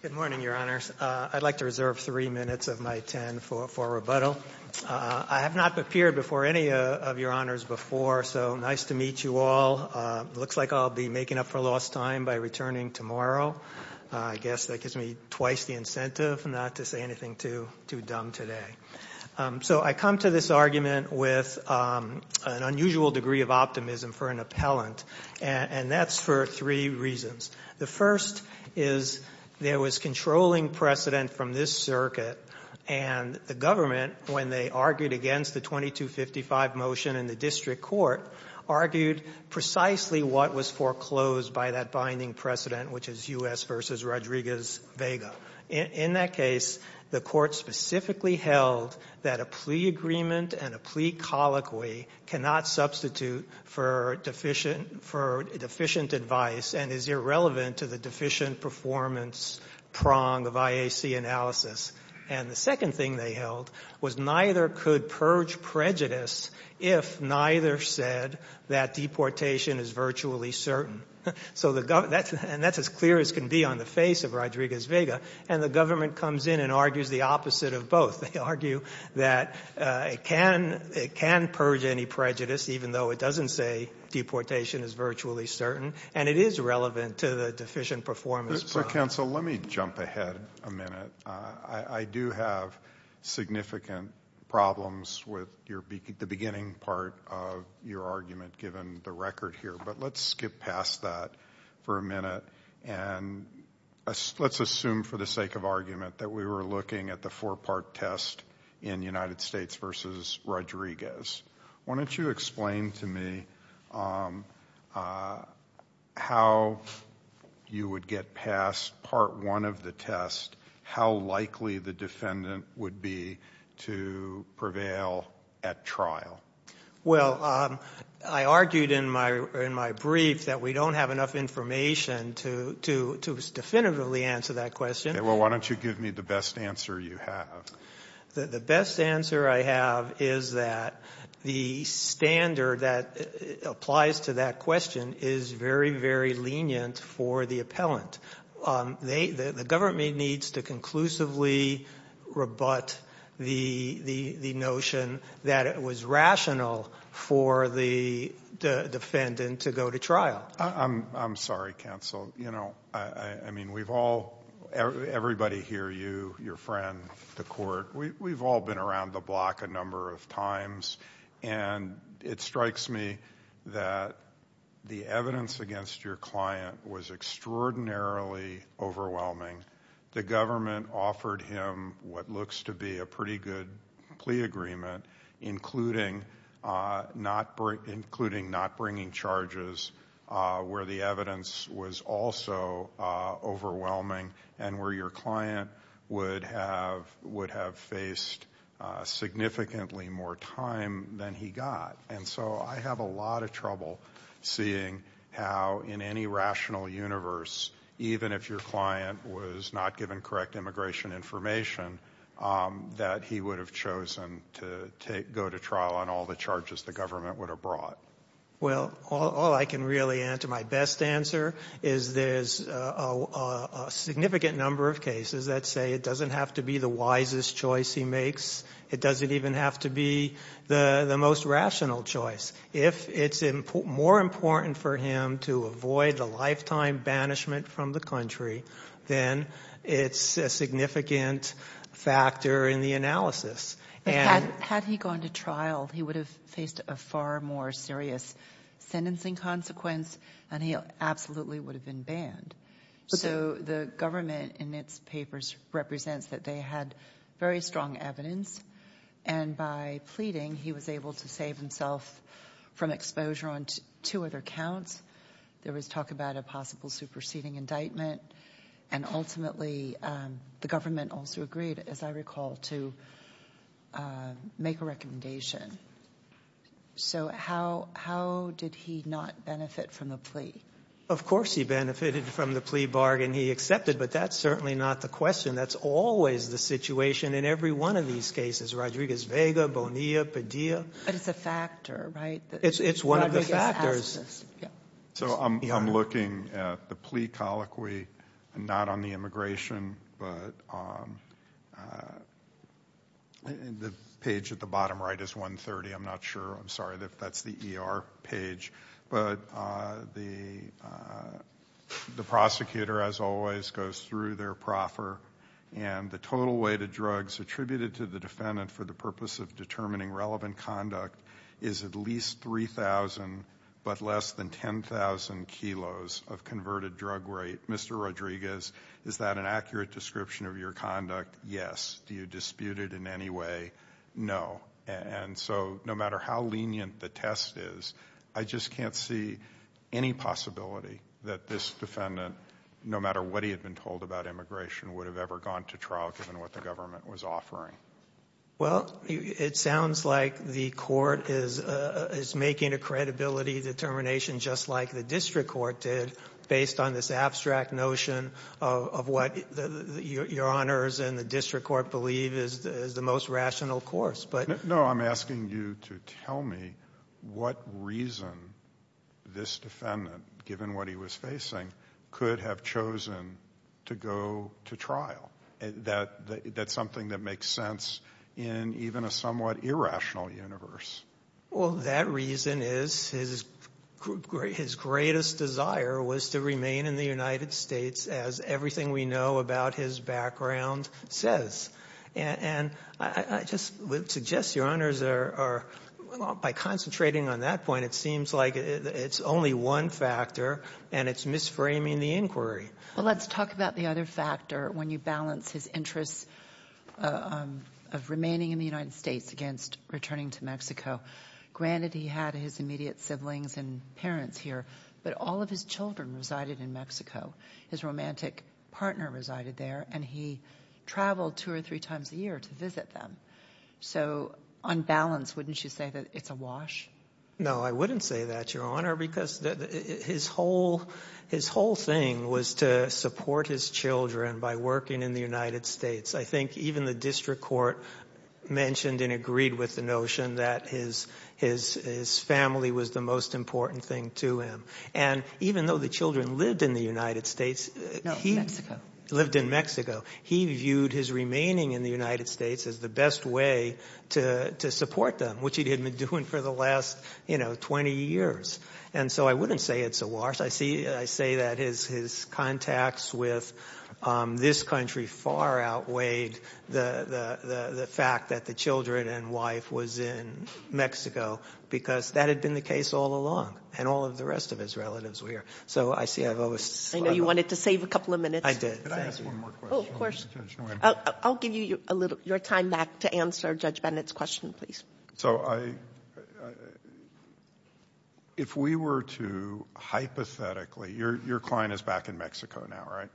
Good morning, Your Honors. I'd like to reserve three minutes of my time for rebuttal. I have not appeared before any of Your Honors before, so nice to meet you all. Looks like I'll be making up for lost time by returning tomorrow. I guess that gives me twice the incentive not to say anything too dumb today. So I come to this argument with an unusual degree of optimism for an appellant, and that's for three reasons. The first is there was controlling precedent from this circuit, and the government, when they argued against the 2255 motion in the district court, argued precisely what was foreclosed by that binding precedent, which is U.S. v. Rodriguez-Vega. In that case, the court specifically held that a plea agreement and a plea colloquy cannot substitute for deficient advice and is irrelevant to the deficient performance prong of IAC analysis. And the second thing they held was neither could purge prejudice if neither said that deportation is virtually certain. And that's as clear as can be on the face of Rodriguez-Vega. And the government comes in and argues the opposite of both. They argue that it can purge any prejudice even though it doesn't say deportation is virtually certain, and it is relevant to the deficient performance prong. Counsel, let me jump ahead a minute. I do have significant problems with the beginning part of your argument given the record here, but let's skip past that for a minute and let's assume for the sake of argument that we were looking at the four-part test in United States v. Rodriguez. Why don't you explain to me how you would get past part one of the test, how likely the defendant would be to prevail at trial? Well, I argued in my brief that we don't have enough information to definitively answer that question. Okay, well, why don't you give me the best answer you have? The best answer I have is that the standard that applies to that question is very, very lenient for the appellant. The government needs to conclusively rebut the notion that it was rational for the defendant to go to trial. I'm sorry, counsel. Everybody here, you, your friend, the court, we've all been around the block a number of times, and it strikes me that the evidence against your client was extraordinarily overwhelming. The government offered him what looks to be a pretty good plea agreement, including not bringing charges where the evidence was also overwhelming and where your client would have faced significantly more time than he got. And so I have a lot of trouble seeing how in any rational universe, even if your client was not given correct immigration information, that he would have chosen to go to trial on all the charges the government would have brought. Well, all I can really answer, my best answer, is there's a significant number of cases that say it doesn't have to be the wisest choice he makes. It doesn't even have to be the most rational choice. If it's more important for him to avoid a lifetime banishment from the country, then it's a significant factor in the analysis. Had he gone to trial, he would have faced a far more serious sentencing consequence, and he absolutely would have been banned. So the government in its papers represents that they had very strong evidence, and by pleading, he was able to save himself from exposure on two other counts. There was talk about a possible superseding indictment, and ultimately the government also agreed, as I recall, to make a recommendation. So how did he not benefit from the plea? Of course he benefited from the plea bargain. He accepted, but that's certainly not the question. That's always the situation in every one of these cases, Rodriguez-Vega, Bonilla, Padilla. But it's a factor, right? It's one of the factors. So I'm looking at the plea colloquy, not on the immigration, but the page at the bottom right is 130. I'm not sure. I'm sorry if that's the ER page. But the prosecutor, as always, goes through their proffer, and the total weight of drugs attributed to the defendant for the purpose of determining relevant conduct is at least 3,000 but less than 10,000 kilos of converted drug rate. Mr. Rodriguez, is that an accurate description of your conduct? Yes. Do you dispute it in any way? No. And so no matter how lenient the test is, I just can't see any possibility that this defendant, no matter what he had been told about immigration, would have ever gone to trial given what the government was offering. Well, it sounds like the court is making a credibility determination just like the district court did based on this abstract notion of what Your Honors and the district court believe is the most rational course. No, I'm asking you to tell me what reason this defendant, given what he was facing, could have chosen to go to trial. That's something that makes sense in even a somewhat irrational universe. Well, that reason is his greatest desire was to remain in the United States, as everything we know about his background says. And I just would suggest, Your Honors, by concentrating on that point, it seems like it's only one factor and it's misframing the inquiry. Well, let's talk about the other factor when you balance his interests of remaining in the United States against returning to Mexico. Granted, he had his immediate siblings and parents here, but all of his children resided in Mexico. His romantic partner resided there, and he traveled two or three times a year to visit them. So on balance, wouldn't you say that it's a wash? No, I wouldn't say that, Your Honor, because his whole thing was to support his children by working in the United States. I think even the district court mentioned and agreed with the notion that his family was the most important thing to him. And even though the children lived in the United States, he lived in Mexico, he viewed his remaining in the United States as the best way to support them, which he had been doing for the last 20 years. And so I wouldn't say it's a wash. I say that his contacts with this country far outweighed the fact that the children and wife was in Mexico, because that had been the case all along, and all of the rest of his relatives were here. So I see I've overslid that. I know you wanted to save a couple of minutes. I did. Thank you. Could I ask one more question? Oh, of course. I'll give you your time back to answer Judge Bennett's question, please. So if we were to hypothetically – your client is back in Mexico now, right?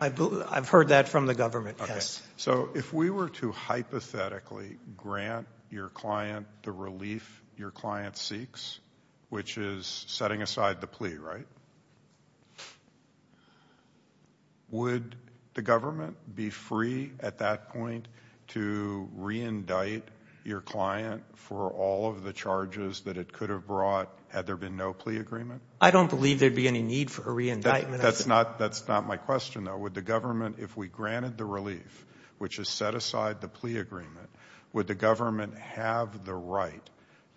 I've heard that from the government, yes. So if we were to hypothetically grant your client the relief your client seeks, which is setting aside the plea, right, would the government be free at that point to reindict your client for all of the charges that it could have brought had there been no plea agreement? I don't believe there would be any need for a reindictment. That's not my question, though. Would the government, if we granted the relief, which is set aside the plea agreement, would the government have the right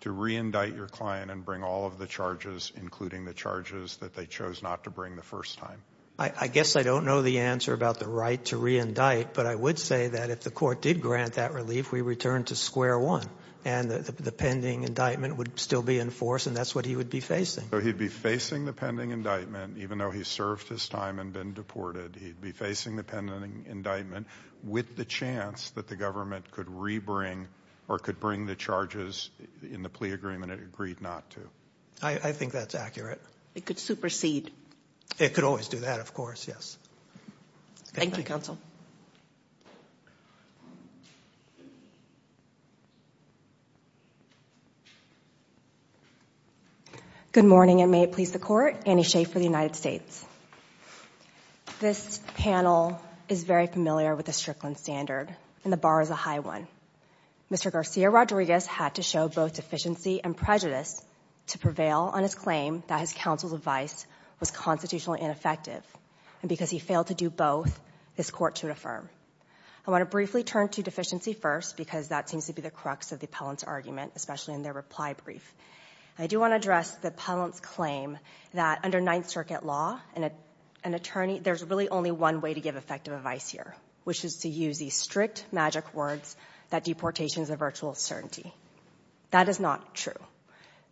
to reindict your client and bring all of the charges, including the charges that they chose not to bring the first time? I guess I don't know the answer about the right to reindict, but I would say that if the court did grant that relief, we'd return to square one, and the pending indictment would still be in force, and that's what he would be facing. So he'd be facing the pending indictment, even though he served his time and been deported. He'd be facing the pending indictment with the chance that the government could rebring or could bring the charges in the plea agreement it agreed not to. I think that's accurate. It could supersede. It could always do that, of course, yes. Thank you, counsel. Good morning, and may it please the Court. Annie Schafer, the United States. This panel is very familiar with the Strickland standard, and the bar is a high one. Mr. Garcia-Rodriguez had to show both deficiency and prejudice to prevail on his claim that his counsel's advice was constitutionally ineffective, and because he failed to do both, this Court should affirm. I want to briefly turn to deficiency first because that seems to be the crux of the appellant's argument, especially in their reply brief. I do want to address the appellant's claim that under Ninth Circuit law, there's really only one way to give effective advice here, which is to use these strict magic words that deportation is a virtual certainty. That is not true.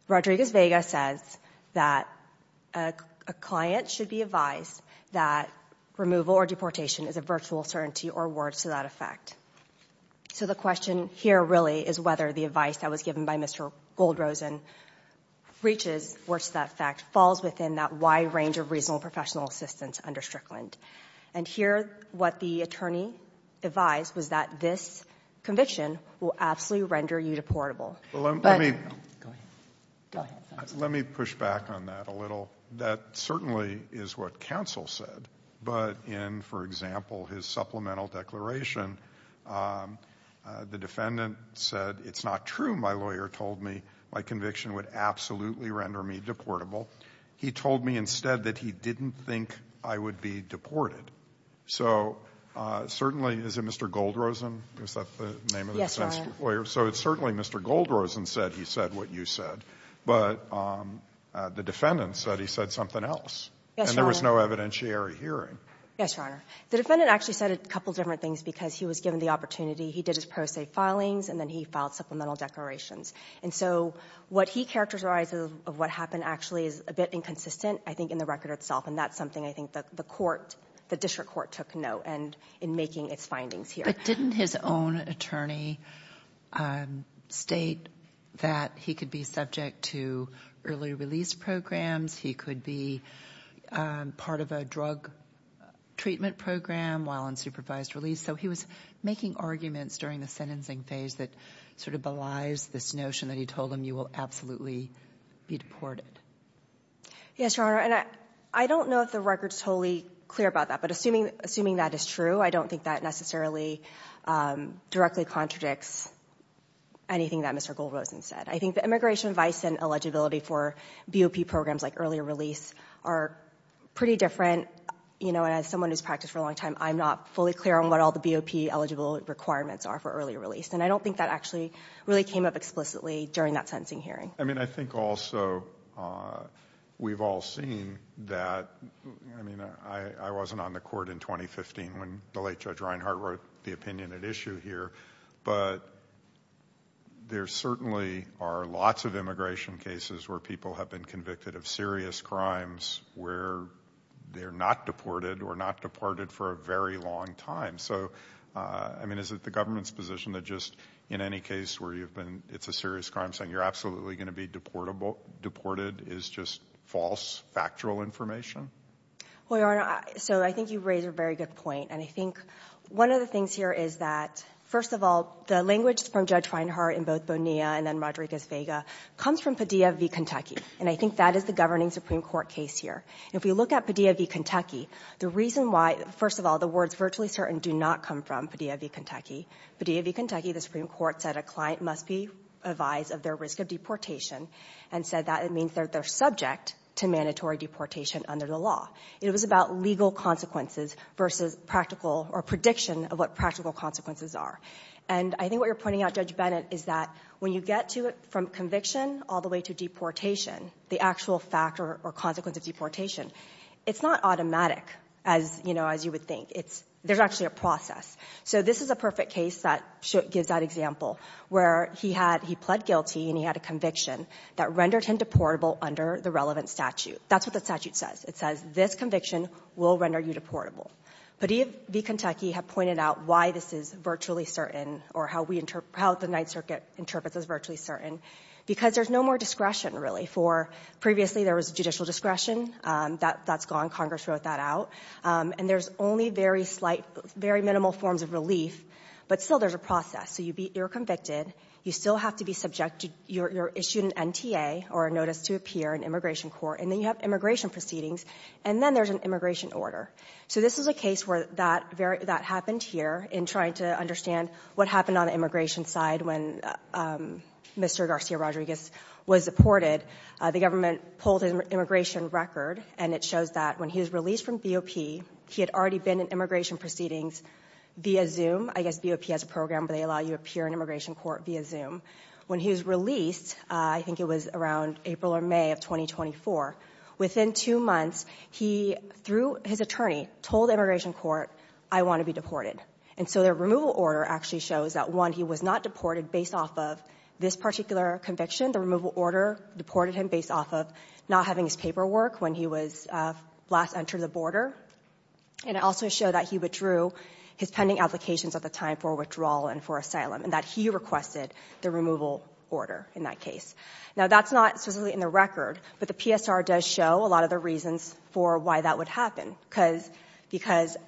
Rodriguez-Vega says that a client should be advised that removal or deportation is a virtual certainty or words to that effect. So the question here really is whether the advice that was given by Mr. Goldrosen reaches words to that effect, falls within that wide range of reasonable professional assistance under Strickland. And here what the attorney advised was that this conviction will absolutely render you deportable. But go ahead. Go ahead. Let me push back on that a little. That certainly is what counsel said. But in, for example, his supplemental declaration, the defendant said, it's not true my lawyer told me my conviction would absolutely render me deportable. He told me instead that he didn't think I would be deported. So certainly, is it Mr. Goldrosen? Is that the name of the defense lawyer? So it's certainly Mr. Goldrosen said he said what you said. But the defendant said he said something else. And there was no evidentiary hearing. Yes, Your Honor. The defendant actually said a couple different things because he was given the opportunity. He did his pro se filings and then he filed supplemental declarations. And so what he characterized of what happened actually is a bit inconsistent, I think, in the record itself. And that's something I think the court, the district court took note in making its findings here. But didn't his own attorney state that he could be subject to early release programs? He could be part of a drug treatment program while in supervised release. So he was making arguments during the sentencing phase that sort of belies this notion that he told him you will absolutely be deported. Yes, Your Honor. And I don't know if the record is totally clear about that. But assuming that is true, I don't think that necessarily directly contradicts anything that Mr. Goldrosen said. I think the immigration advice and eligibility for BOP programs like early release are pretty different. You know, as someone who's practiced for a long time, I'm not fully clear on what all the BOP eligible requirements are for early release. And I don't think that actually really came up explicitly during that sentencing hearing. Well, I mean, I think also we've all seen that, I mean, I wasn't on the court in 2015 when the late Judge Reinhart wrote the opinion at issue here. But there certainly are lots of immigration cases where people have been convicted of serious crimes where they're not deported or not departed for a very long time. So, I mean, is it the government's position that just in any case where you've been, it's a serious crime, saying you're absolutely going to be deported is just false, factual information? Well, Your Honor, so I think you raise a very good point. And I think one of the things here is that, first of all, the language from Judge Reinhart in both Bonilla and then Rodriguez-Vega comes from Padilla v. Kentucky. And I think that is the governing Supreme Court case here. If we look at Padilla v. Kentucky, the reason why, first of all, the words virtually certain do not come from Padilla v. Kentucky. Padilla v. Kentucky, the Supreme Court said a client must be advised of their risk of deportation and said that it means that they're subject to mandatory deportation under the law. It was about legal consequences versus practical or prediction of what practical consequences are. And I think what you're pointing out, Judge Bennett, is that when you get to it from conviction all the way to deportation, the actual factor or consequence of deportation, it's not automatic, as you would think. There's actually a process. So this is a perfect case that gives that example, where he pled guilty and he had a conviction that rendered him deportable under the relevant statute. That's what the statute says. It says this conviction will render you deportable. Padilla v. Kentucky have pointed out why this is virtually certain or how the Ninth Circuit interprets it as virtually certain. Because there's no more discretion, really. For previously, there was judicial discretion. That's gone. Congress wrote that out. And there's only very slight, very minimal forms of relief. But still, there's a process. So you're convicted. You still have to be subjected. You're issued an NTA or a notice to appear in immigration court. And then you have immigration proceedings. And then there's an immigration order. So this is a case where that happened here in trying to understand what happened on the immigration side when Mr. Garcia Rodriguez was deported. The government pulled his immigration record, and it shows that when he was released from BOP, he had already been in immigration proceedings via Zoom. I guess BOP has a program where they allow you to appear in immigration court via Zoom. When he was released, I think it was around April or May of 2024, within two months, he, through his attorney, told immigration court, I want to be deported. And so the removal order actually shows that, one, he was not deported based off of this particular conviction. The removal order deported him based off of not having his paperwork when he was last entered the border. And it also showed that he withdrew his pending applications at the time for withdrawal and for asylum, and that he requested the removal order in that case. Now, that's not specifically in the record, but the PSR does show a lot of the reasons for why that would happen, because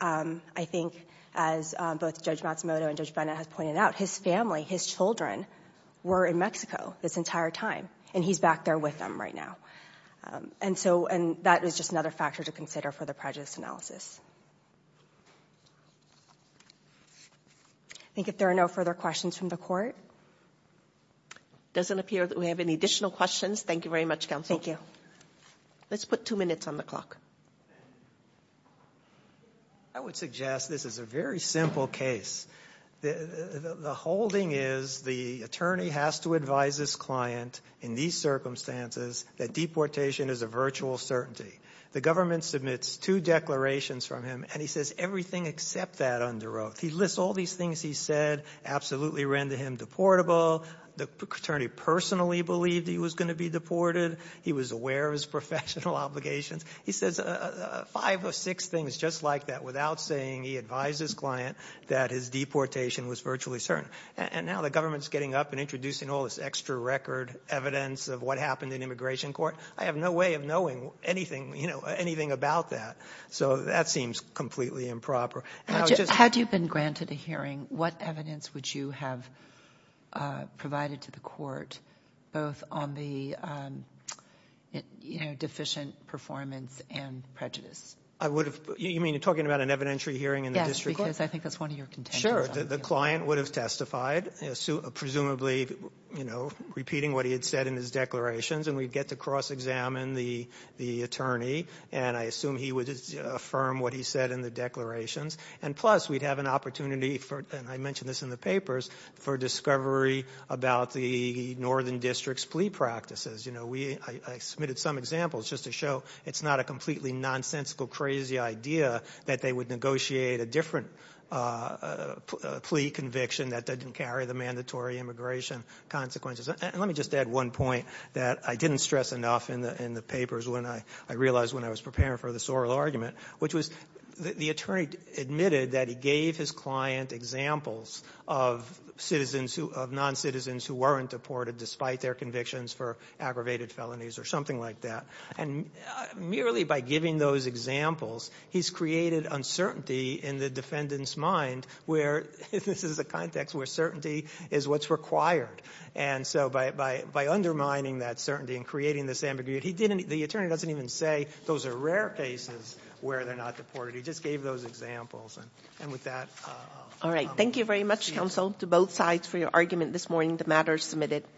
I think, as both Judge Matsumoto and Judge Bennett have pointed out, his family, his children, were in Mexico this entire time, and he's back there with them right now. And so that is just another factor to consider for the prejudice analysis. I think if there are no further questions from the Court. It doesn't appear that we have any additional questions. Thank you very much, Counsel. Thank you. Let's put two minutes on the clock. I would suggest this is a very simple case. The holding is the attorney has to advise his client in these circumstances that deportation is a virtual certainty. The government submits two declarations from him, and he says everything except that under oath. He lists all these things he said absolutely render him deportable. The attorney personally believed he was going to be deported. He was aware of his professional obligations. He says five or six things just like that without saying he advised his client that his deportation was virtually certain. And now the government is getting up and introducing all this extra record evidence of what happened in immigration court. I have no way of knowing anything about that, so that seems completely improper. Had you been granted a hearing, what evidence would you have provided to the court both on the, you know, deficient performance and prejudice? You mean talking about an evidentiary hearing in the district court? Yes, because I think that's one of your contentions. The client would have testified, presumably, you know, repeating what he had said in his declarations, and we'd get to cross-examine the attorney, and I assume he would affirm what he said in the declarations. And plus, we'd have an opportunity for, and I mentioned this in the papers, for discovery about the northern district's plea practices. You know, I submitted some examples just to show it's not a completely nonsensical, crazy idea that they would negotiate a different plea conviction that didn't carry the mandatory immigration consequences. And let me just add one point that I didn't stress enough in the papers when I realized when I was preparing for the Sorrell argument, which was the attorney admitted that he gave his client examples of citizens who, of non-citizens who weren't deported despite their convictions for aggravated felonies or something like that. And merely by giving those examples, he's created uncertainty in the defendant's mind where, this is a context where certainty is what's required. And so by undermining that certainty and creating this ambiguity, he didn't, the attorney doesn't even say those are rare cases where they're not deported. He just gave those examples. And with that... All right. Thank you very much, counsel, to both sides for your argument this morning. The matter is submitted.